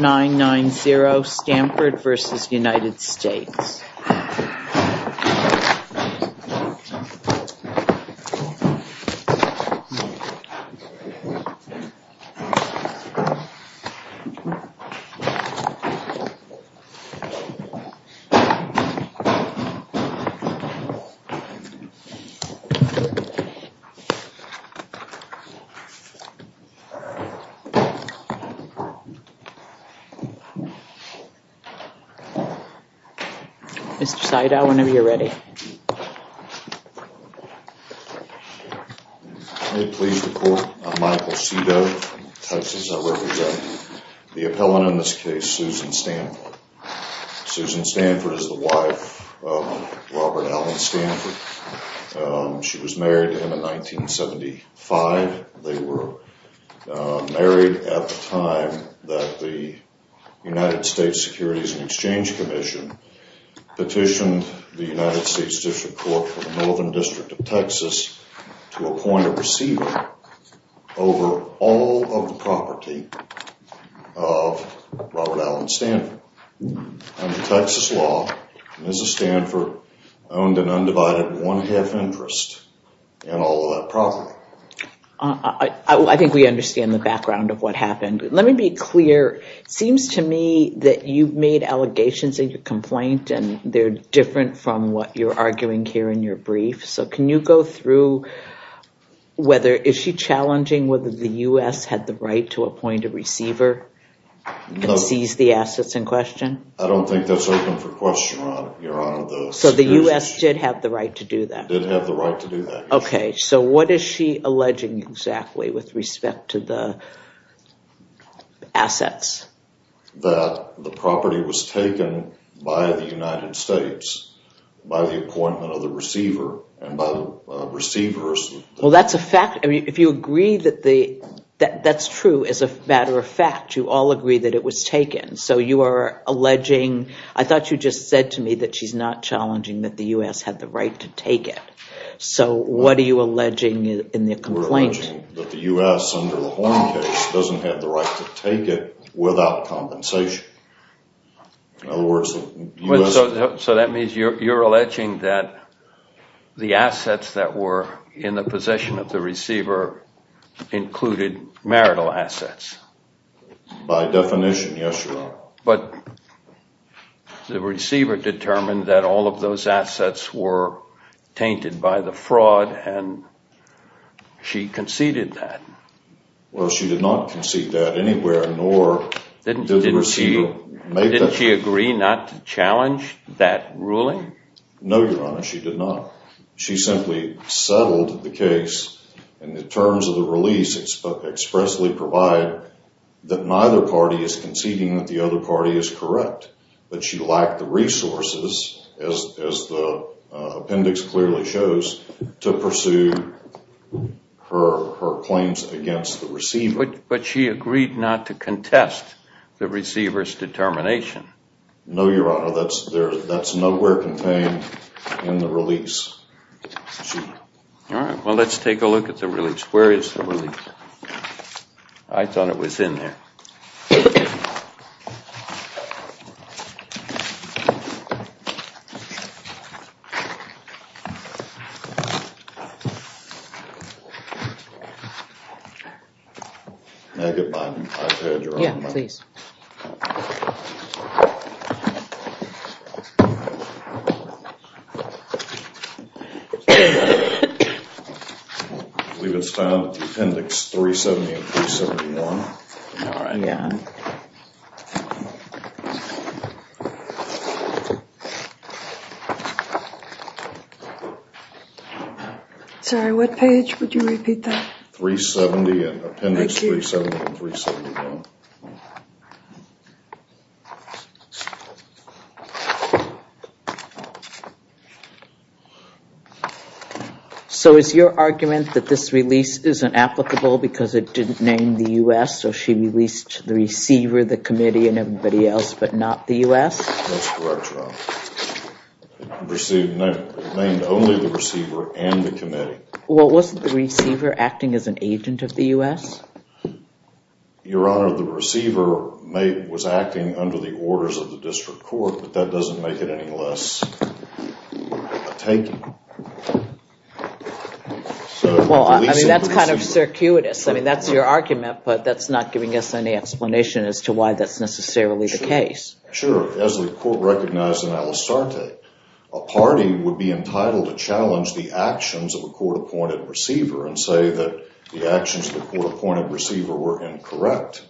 990 Stamford versus United States 990 Stamford versus United States. Mr. Seidel whenever you're ready. Please report. I'm Michael Seidel. I represent the appellant in this case, Susan Stanford. Susan Stanford is the wife of Robert Allen Stanford. She was married to him in 1975. They were married at the time that the United States Securities and Exchange Commission petitioned the United States District Court for the Northern District of Texas to appoint a receiver over all of the property of Robert Allen Stanford. Under Texas law, Mrs. Stanford owned an undivided one half interest in all of that property. I think we understand the background of what happened. Let me be clear. It seems to me that you've made allegations in your complaint and they're different from what you're arguing here in your brief. So can you go through whether, is she challenging whether the U.S. had the right to appoint a receiver and seize the assets in question? I don't think that's open for question, Your Honor. So the U.S. did have the right to do that? Did have the right to do that. Okay, so what is she alleging exactly with respect to the assets? That the property was taken by the United States by the appointment of the receiver and by the receivers. Well, that's a fact. If you agree that that's true as a matter of fact, you all agree that it was taken. So you are alleging, I thought you just said to me that she's not challenging that the U.S. had the right to take it. So what are you alleging in the complaint? We're alleging that the U.S. under the Horne case doesn't have the right to take it without compensation. In other words, the U.S. So that means you're alleging that the assets that were in the possession of the receiver included marital assets. By definition, yes, Your Honor. But the receiver determined that all of those assets were tainted by the fraud and she conceded that. Well, she did not concede that anywhere nor did the receiver make that. Didn't she agree not to challenge that ruling? No, Your Honor, she did not. She simply settled the case and the terms of the release expressly provide that neither party is conceding that the other party is correct. But she lacked the resources, as the appendix clearly shows, to pursue her claims against the receiver. But she agreed not to contest the receiver's determination. No, Your Honor, that's nowhere contained in the release. All right, well, let's take a look at the release. Where is the release? I thought it was in there. May I get my page, Your Honor? Yes, please. I believe it's found at the appendix 370 and 371. All right. Yeah. Sorry, what page would you repeat that? 370 and appendix 370 and 371. Thank you. So is your argument that this release isn't applicable because it didn't name the U.S. or she released the receiver, the committee, and everybody else but not the U.S.? That's correct, Your Honor. It named only the receiver and the committee. Well, wasn't the receiver acting as an agent of the U.S.? The receiver was acting under the orders of the district court, but that doesn't make it any less a taking. Well, I mean, that's kind of circuitous. I mean, that's your argument, but that's not giving us any explanation as to why that's necessarily the case. Sure. As the court recognized in Alistarte, a party would be entitled to challenge the actions of a court-appointed receiver and say that the actions of the court-appointed receiver were incorrect,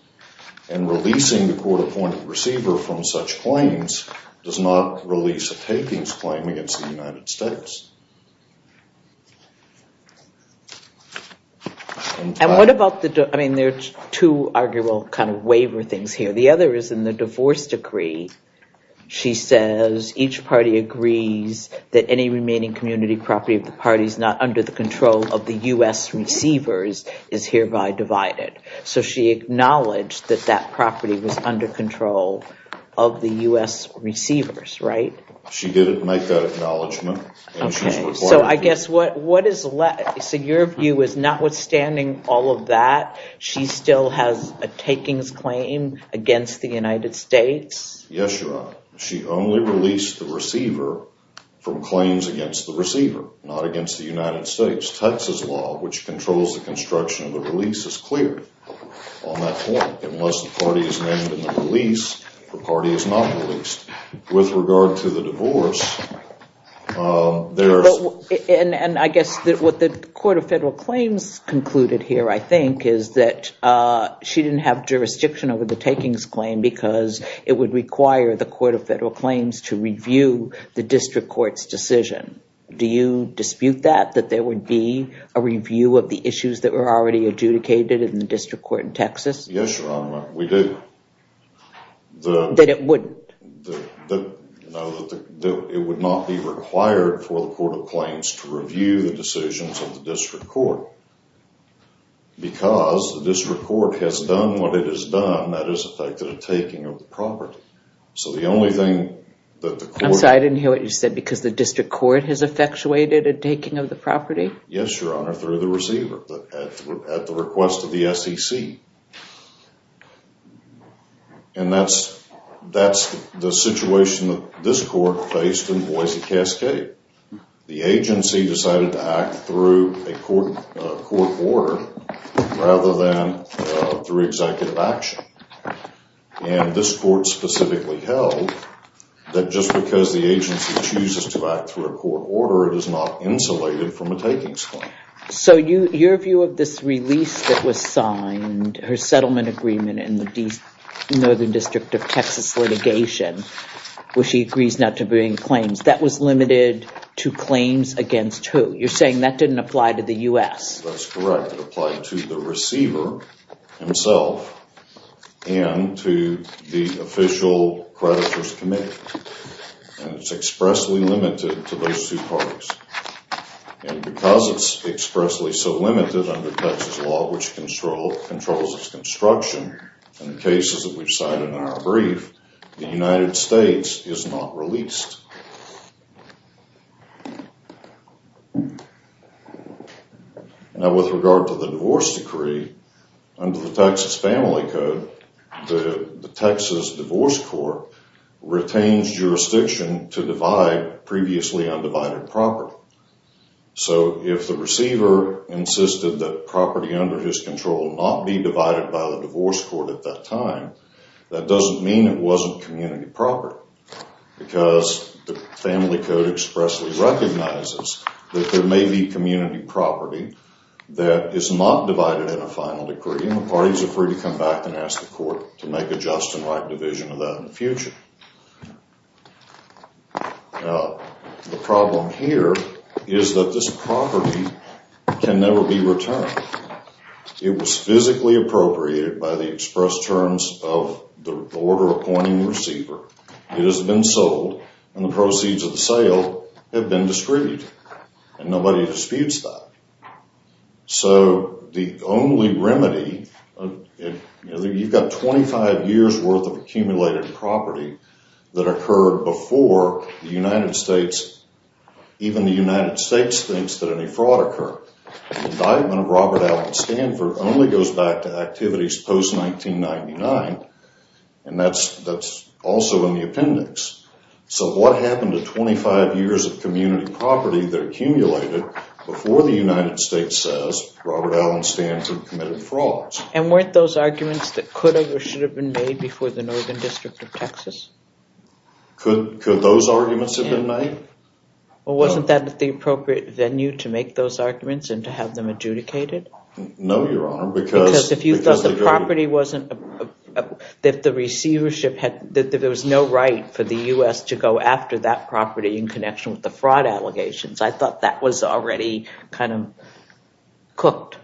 and releasing the court-appointed receiver from such claims does not release a takings claim against the United States. And what about the – I mean, there are two arguable kind of waiver things here. The other is in the divorce decree. She says each party agrees that any remaining community property of the party that is not under the control of the U.S. receivers is hereby divided. So she acknowledged that that property was under control of the U.S. receivers, right? She didn't make that acknowledgment. So I guess what is – so your view is notwithstanding all of that, she still has a takings claim against the United States? Yes, Your Honor. She only released the receiver from claims against the receiver, not against the United States. Texas law, which controls the construction of the release, is clear on that point. Unless the party is named in the release, the party is not released. With regard to the divorce, there's – And I guess what the Court of Federal Claims concluded here, I think, is that she didn't have jurisdiction over the takings claim because it would require the Court of Federal Claims to review the district court's decision. Do you dispute that, that there would be a review of the issues that were already adjudicated in the district court in Texas? Yes, Your Honor, we do. That it wouldn't? No, it would not be required for the Court of Claims to review the decisions of the district court because the district court has done what it has done, that is, affected a taking of the property. So the only thing that the court – I'm sorry, I didn't hear what you said, because the district court has effectuated a taking of the property? Yes, Your Honor, through the receiver at the request of the SEC. And that's the situation that this court faced in Boise Cascade. The agency decided to act through a court order rather than through executive action. And this court specifically held that just because the agency chooses to act through a court order, it is not insulated from a takings claim. So your view of this release that was signed, her settlement agreement in the Northern District of Texas litigation, where she agrees not to bring claims, that was limited to claims against who? You're saying that didn't apply to the U.S.? That's correct. It applied to the receiver himself and to the official creditor's committee. And it's expressly limited to those two parties. And because it's expressly so limited under Texas law, which controls its construction, and the cases that we've cited in our brief, the United States is not released. Now, with regard to the divorce decree, under the Texas Family Code, the Texas Divorce Court retains jurisdiction to divide previously undivided property. So if the receiver insisted that property under his control not be divided by the divorce court at that time, that doesn't mean it wasn't community property because the Family Code expressly recognizes that there may be community property that is not divided in a final decree, and the parties are free to come back and ask the court to make a just and right division of that in the future. The problem here is that this property can never be returned. It was physically appropriated by the express terms of the order appointing the receiver. It has been sold, and the proceeds of the sale have been discredited, and nobody disputes that. So the only remedy, you've got 25 years' worth of accumulated property that occurred before the United States, even the United States thinks that any fraud occurred. The indictment of Robert Allen Stanford only goes back to activities post-1999, and that's also in the appendix. So what happened to 25 years of community property that accumulated before the United States says Robert Allen Stanford committed fraud? And weren't those arguments that could have or should have been made before the Northern District of Texas? Could those arguments have been made? Well, wasn't that the appropriate venue to make those arguments and to have them adjudicated? No, Your Honor, because... if the receivership had... if there was no right for the U.S. to go after that property in connection with the fraud allegations, I thought that was already kind of cooked.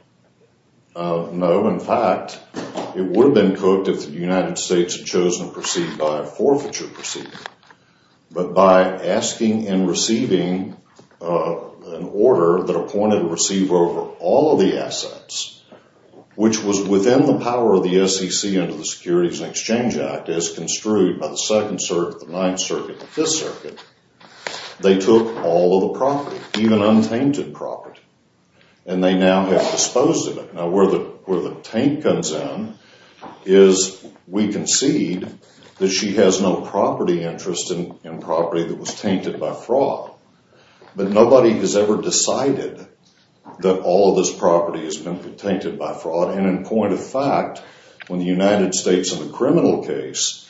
No, in fact, it would have been cooked if the United States had chosen to proceed by a forfeiture proceeding. But by asking and receiving an order that appointed a receiver over all of the assets, which was within the power of the SEC under the Securities and Exchange Act, as construed by the Second Circuit, the Ninth Circuit, the Fifth Circuit, they took all of the property, even untainted property, and they now have disposed of it. Now, where the taint comes in is we concede that she has no property interest in property that was tainted by fraud. But nobody has ever decided that all of this property has been tainted by fraud. And in point of fact, when the United States in the criminal case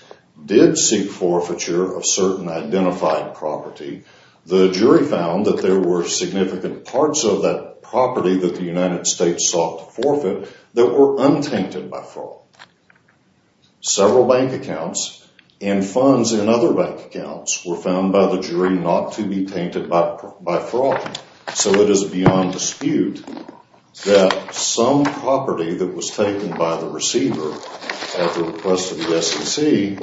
did seek forfeiture of certain identified property, the jury found that there were significant parts of that property that the United States sought to forfeit that were untainted by fraud. Several bank accounts and funds in other bank accounts were found by the jury not to be tainted by fraud. So it is beyond dispute that some property that was taken by the receiver at the request of the SEC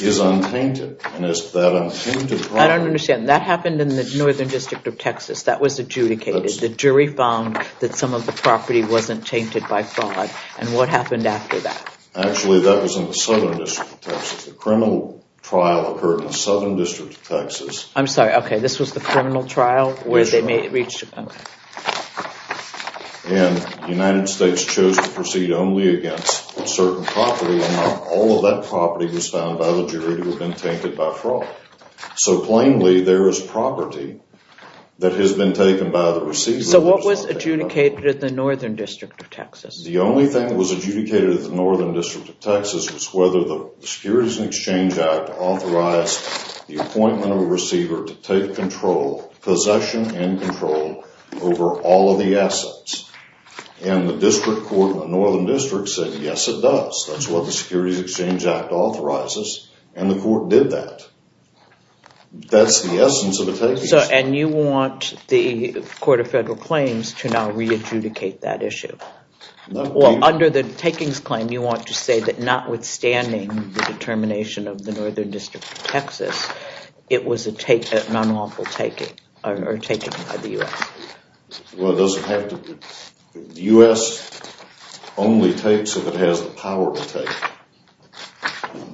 is untainted. And it's that untainted property... I don't understand. That happened in the Northern District of Texas. That was adjudicated. The jury found that some of the property wasn't tainted by fraud. And what happened after that? Actually, that was in the Southern District of Texas. The criminal trial occurred in the Southern District of Texas. I'm sorry. Okay. This was the criminal trial where they reached a point. And the United States chose to proceed only against a certain property and not all of that property was found by the jury to have been tainted by fraud. So plainly, there is property that has been taken by the receiver. So what was adjudicated at the Northern District of Texas? The only thing that was adjudicated at the Northern District of Texas was whether the Securities and Exchange Act authorized the appointment of a receiver to take control, possession and control, over all of the assets. And the district court in the Northern District said, yes, it does. That's what the Securities and Exchange Act authorizes. And the court did that. That's the essence of a takings claim. And you want the Court of Federal Claims to now re-adjudicate that issue? Well, under the takings claim, you want to say that notwithstanding the determination of the Northern District of Texas, it was a non-lawful taking or taken by the U.S.? Well, it doesn't have to be. The U.S. only takes if it has the power to take.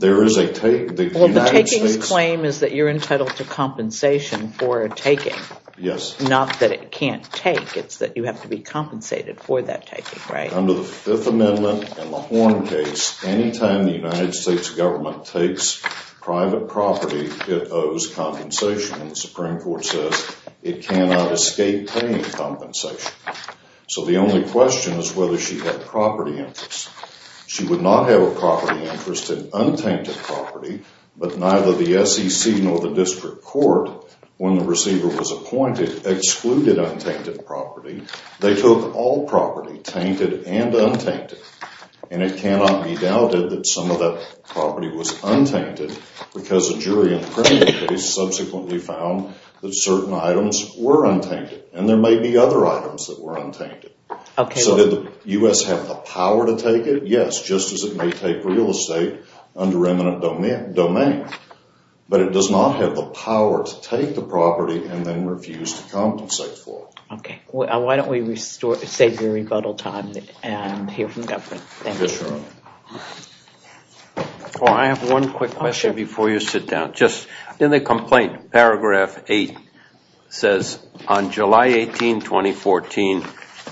There is a take. Well, the takings claim is that you're entitled to compensation for a taking. Yes. Not that it can't take. It's that you have to be compensated for that taking, right? Under the Fifth Amendment and the Horn case, any time the United States government takes private property, it owes compensation. And the Supreme Court says it cannot escape paying compensation. So the only question is whether she had property interest. She would not have a property interest in untainted property, but neither the SEC nor the district court, when the receiver was appointed, excluded untainted property. They took all property, tainted and untainted. And it cannot be doubted that some of that property was untainted because a jury in the criminal case subsequently found that certain items were untainted, and there may be other items that were untainted. So did the U.S. have the power to take it? Yes, just as it may take real estate under eminent domain. But it does not have the power to take the property and then refuse to compensate for it. Okay. Why don't we save the rebuttal time and hear from government. Thank you. Yes, Your Honor. I have one quick question before you sit down. Just in the complaint, paragraph 8 says, on July 18, 2014,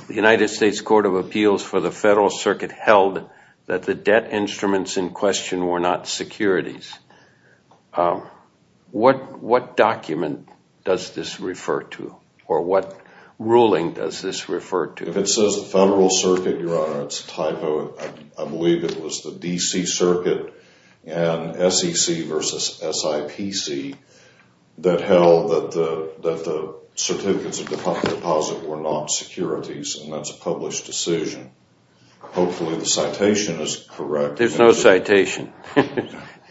the United States Court of Appeals for the Federal Circuit held that the debt instruments in question were not securities. What document does this refer to? Or what ruling does this refer to? If it says the Federal Circuit, Your Honor, it's a typo. I believe it was the D.C. Circuit and SEC versus SIPC that held that the certificates of deposit were not securities, and that's a published decision. Hopefully the citation is correct. There's no citation.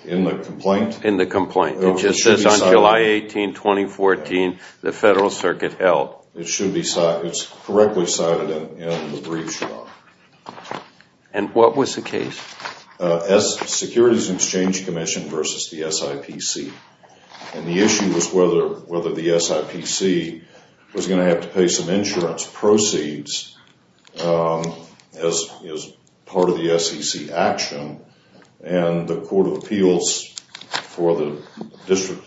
In the complaint? In the complaint. It just says, on July 18, 2014, the Federal Circuit held. It should be cited. It's correctly cited in the brief, Your Honor. And what was the case? Securities Exchange Commission versus the SIPC. And the issue was whether the SIPC was going to have to pay some insurance proceeds as part of the SEC action, and the Court of Appeals for the District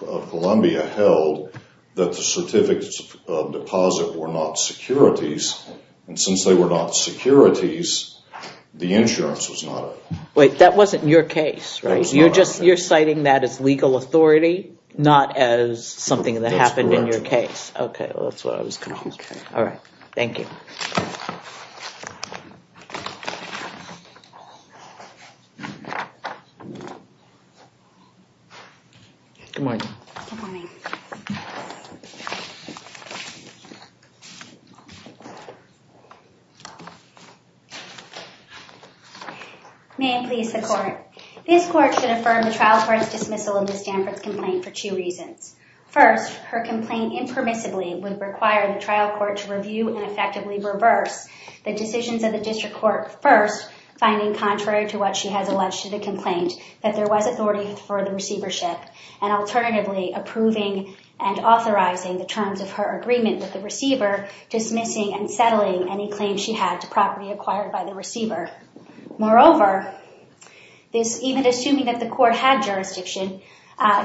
of Columbia held that the certificates of deposit were not securities. And since they were not securities, the insurance was not. Wait, that wasn't your case, right? You're citing that as legal authority, not as something that happened in your case. That's correct. Okay, well, that's what I was going to ask. Okay. All right. Thank you. Good morning. Good morning. May it please the Court. This Court should affirm the trial court's dismissal of Ms. Stanford's complaint for two reasons. First, her complaint impermissibly would require the trial court to review and effectively reverse the decisions of the district court first, finding contrary to what she has alleged to the complaint, that there was authority for the receivership, and alternatively approving and authorizing the terms of her agreement with the receiver, dismissing and settling any claims she had to property acquired by the receiver. Moreover, even assuming that the court had jurisdiction,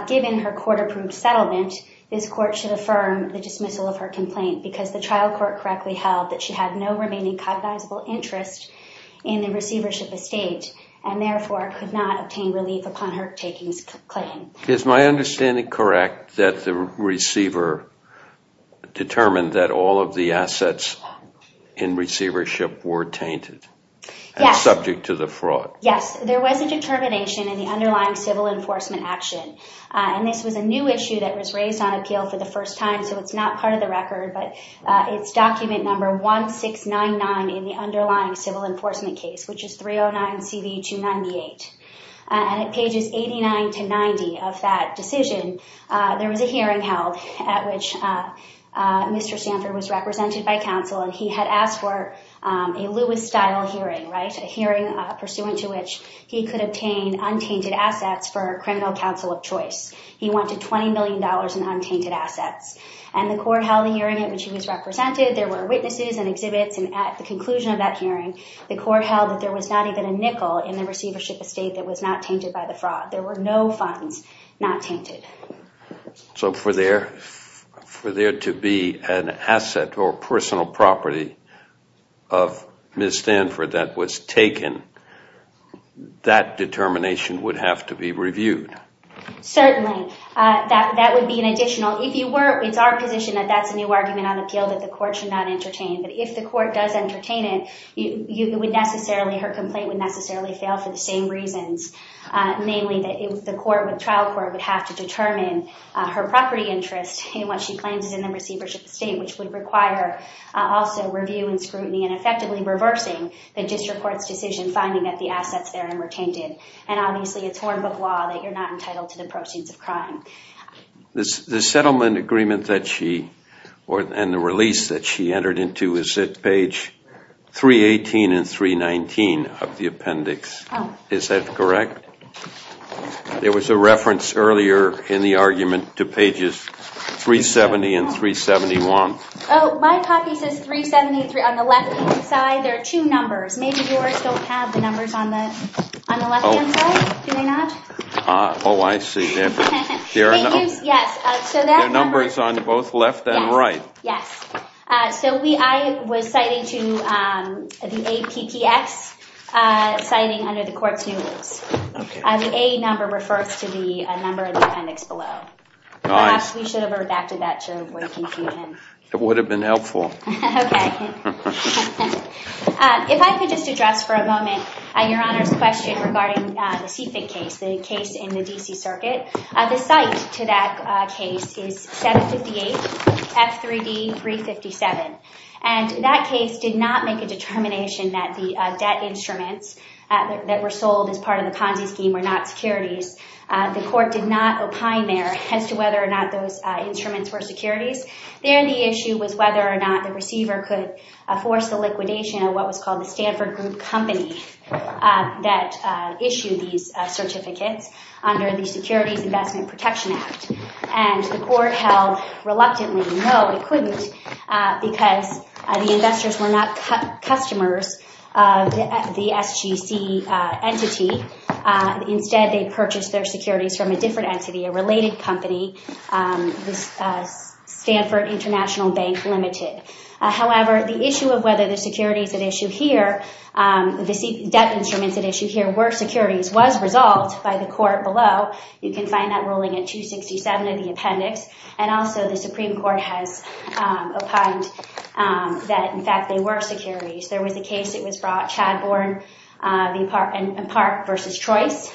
given her court-approved settlement, this Court should affirm the dismissal of her complaint, because the trial court correctly held that she had no remaining cognizable interest in the receivership estate, and therefore could not obtain relief upon her takings claim. Is my understanding correct that the receiver determined that all of the assets in receivership were tainted and subject to the fraud? Yes. There was a determination in the underlying civil enforcement action, and this was a new issue that was raised on appeal for the first time, so it's not part of the record, but it's document number 1699 in the underlying civil enforcement case, which is 309CV298. And at pages 89 to 90 of that decision, there was a hearing held at which Mr. Stanford was represented by counsel, and he had asked for a Lewis-style hearing, right, a hearing pursuant to which he could obtain untainted assets for criminal counsel of choice. He wanted $20 million in untainted assets. And the court held a hearing at which he was represented. There were witnesses and exhibits, and at the conclusion of that hearing, the court held that there was not even a nickel in the receivership estate that was not tainted by the fraud. There were no funds not tainted. So for there to be an asset or personal property of Ms. Stanford that was taken, that determination would have to be reviewed. Certainly. That would be an additional. If you were, it's our position that that's a new argument on appeal, that the court should not entertain. But if the court does entertain it, her complaint would necessarily fail for the same reasons, namely that the trial court would have to determine her property interest in what she claims is in the receivership estate, which would require also review and scrutiny and effectively reversing the district court's decision finding that the assets therein were tainted. And obviously it's hornbook law that you're not entitled to the proceeds of crime. The settlement agreement that she, and the release that she entered into is at page 318 and 319 of the appendix. Is that correct? There was a reference earlier in the argument to pages 370 and 371. Oh, my copy says 373 on the left side. There are two numbers. Maybe yours don't have the numbers on the left-hand side. Do they not? Oh, I see. There are numbers on both left and right. Yes. So I was citing to the APPS, citing under the court's new rules. The A number refers to the number in the appendix below. Gosh, we should have redacted that to avoid confusion. It would have been helpful. Okay. If I could just address for a moment Your Honor's question regarding the CFIC case, the case in the D.C. Circuit. The site to that case is 758 F3D 357. And that case did not make a determination that the debt instruments that were sold as part of the Ponzi scheme were not securities. The court did not opine there as to whether or not those instruments were securities. There the issue was whether or not the receiver could force the liquidation of what was called the Stanford Group Company that issued these certificates under the Securities Investment Protection Act. And the court held reluctantly no, it couldn't, because the investors were not customers of the SGC entity. Instead, they purchased their securities from a different entity, a related company, Stanford International Bank Limited. However, the issue of whether the securities at issue here, the debt instruments at issue here were securities was resolved by the court below. You can find that ruling at 267 of the appendix. And also the Supreme Court has opined that, in fact, they were securities. There was a case that was brought, Chadbourne and Park v. Trois,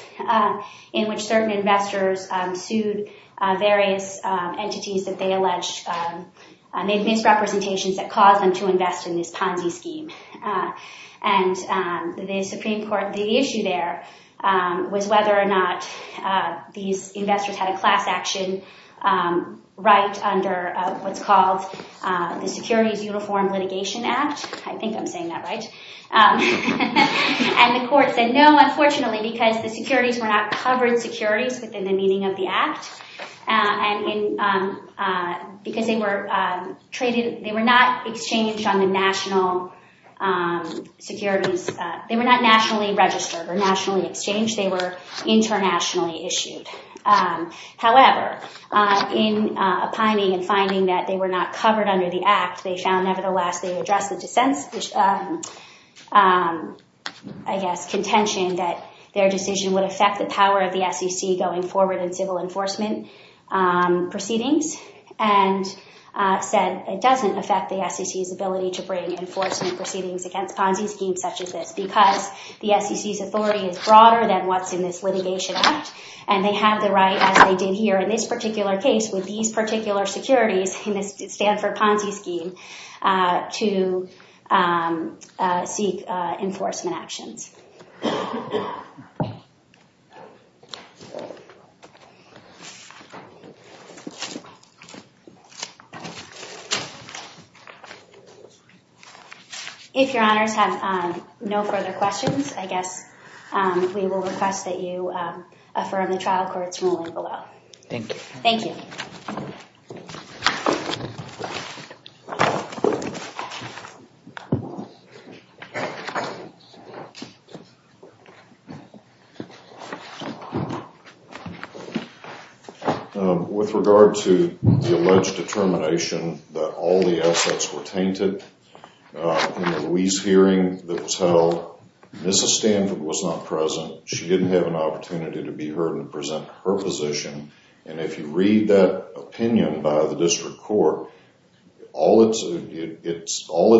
in which certain investors sued various entities that they alleged made misrepresentations that caused them to invest in this Ponzi scheme. And the Supreme Court, the issue there was whether or not these investors had a class action right under what's called the Securities Uniform Litigation Act. I think I'm saying that right. And the court said no, unfortunately, because the securities were not covered securities within the meaning of the act, because they were not exchanged on the national securities. They were not nationally registered or nationally exchanged. They were internationally issued. However, in opining and finding that they were not covered under the act, they found, nevertheless, they addressed the dissent's, I guess, contention that their decision would affect the power of the SEC going forward in civil enforcement proceedings, and said it doesn't affect the SEC's ability to bring enforcement proceedings against Ponzi schemes such as this, because the SEC's authority is broader than what's in this litigation act, and they have the right, as they did here in this particular case, with these particular securities in this Stanford Ponzi scheme, to seek enforcement actions. If your honors have no further questions, I guess we will request that you affirm the trial court's ruling below. Thank you. Thank you. Thank you. With regard to the alleged determination that all the assets were tainted in the Louise hearing that was held, Mrs. Stanford was not present. She didn't have an opportunity to be heard and present her position. If you read that opinion by the district court, all it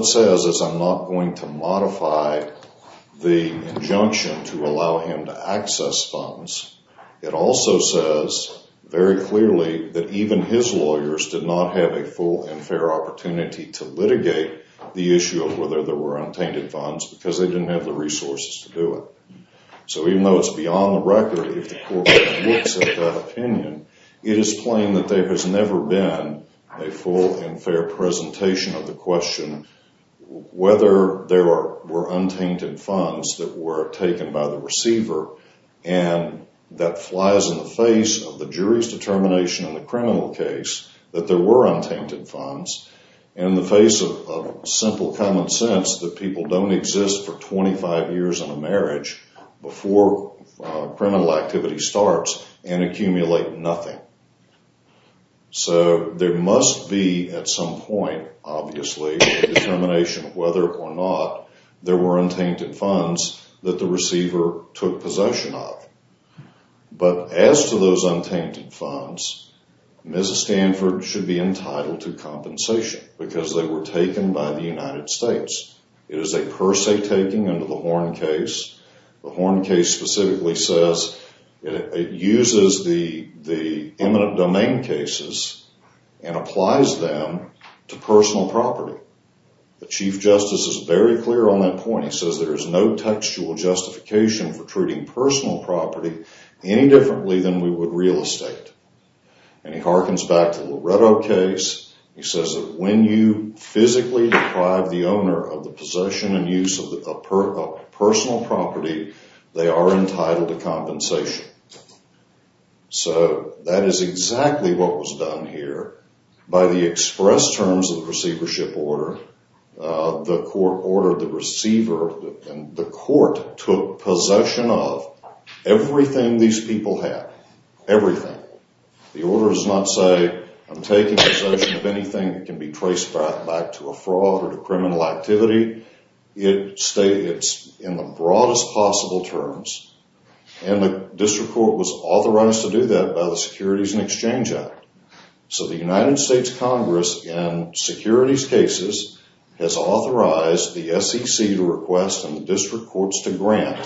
says is I'm not going to modify the injunction to allow him to access funds. It also says very clearly that even his lawyers did not have a full and fair opportunity to litigate the issue of whether there were untainted funds, because they didn't have the resources to do it. So even though it's beyond the record, if the court looks at that opinion, it is plain that there has never been a full and fair presentation of the question whether there were untainted funds that were taken by the receiver, and that flies in the face of the jury's determination in the criminal case that there were untainted funds. In the face of simple common sense that people don't exist for 25 years in a case before criminal activity starts and accumulate nothing. So there must be at some point, obviously, a determination of whether or not there were untainted funds that the receiver took possession of. But as to those untainted funds, Mrs. Stanford should be entitled to compensation because they were taken by the United States. It is a per se taking under the Horn case. The Horn case specifically says it uses the eminent domain cases and applies them to personal property. The Chief Justice is very clear on that point. He says there is no textual justification for treating personal property any differently than we would real estate. And he harkens back to the Loretto case. He says that when you physically deprive the owner of the possession and use of personal property, they are entitled to compensation. So that is exactly what was done here by the express terms of the receivership order. The court ordered the receiver and the court took possession of everything these people had, everything. The order does not say I'm taking possession of anything that can be traced back to a fraud or to criminal activity. It's in the broadest possible terms. And the district court was authorized to do that by the Securities and Exchange Act. So the United States Congress in securities cases has authorized the SEC to request and the district courts to grant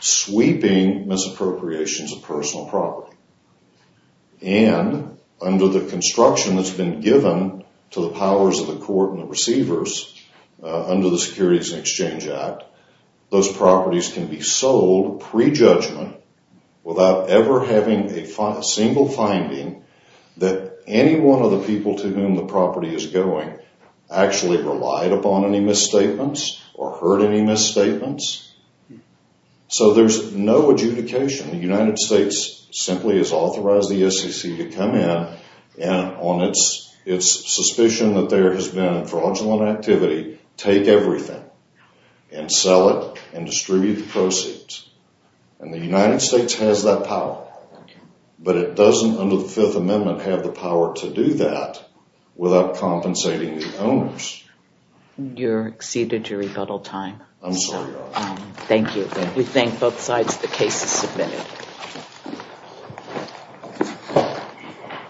sweeping misappropriations of And under the construction that's been given to the powers of the court and the receivers under the Securities and Exchange Act, those properties can be sold pre-judgment without ever having a single finding that any one of the people to whom the property is going actually relied upon any misstatements or heard any misstatements. So there's no adjudication. The United States simply has authorized the SEC to come in and on its suspicion that there has been fraudulent activity, take everything and sell it and distribute the proceeds. And the United States has that power. But it doesn't under the Fifth Amendment have the power to do that without compensating the owners. You exceeded your rebuttal time. I'm sorry, Your Honor. Thank you. We thank both sides. The case is submitted.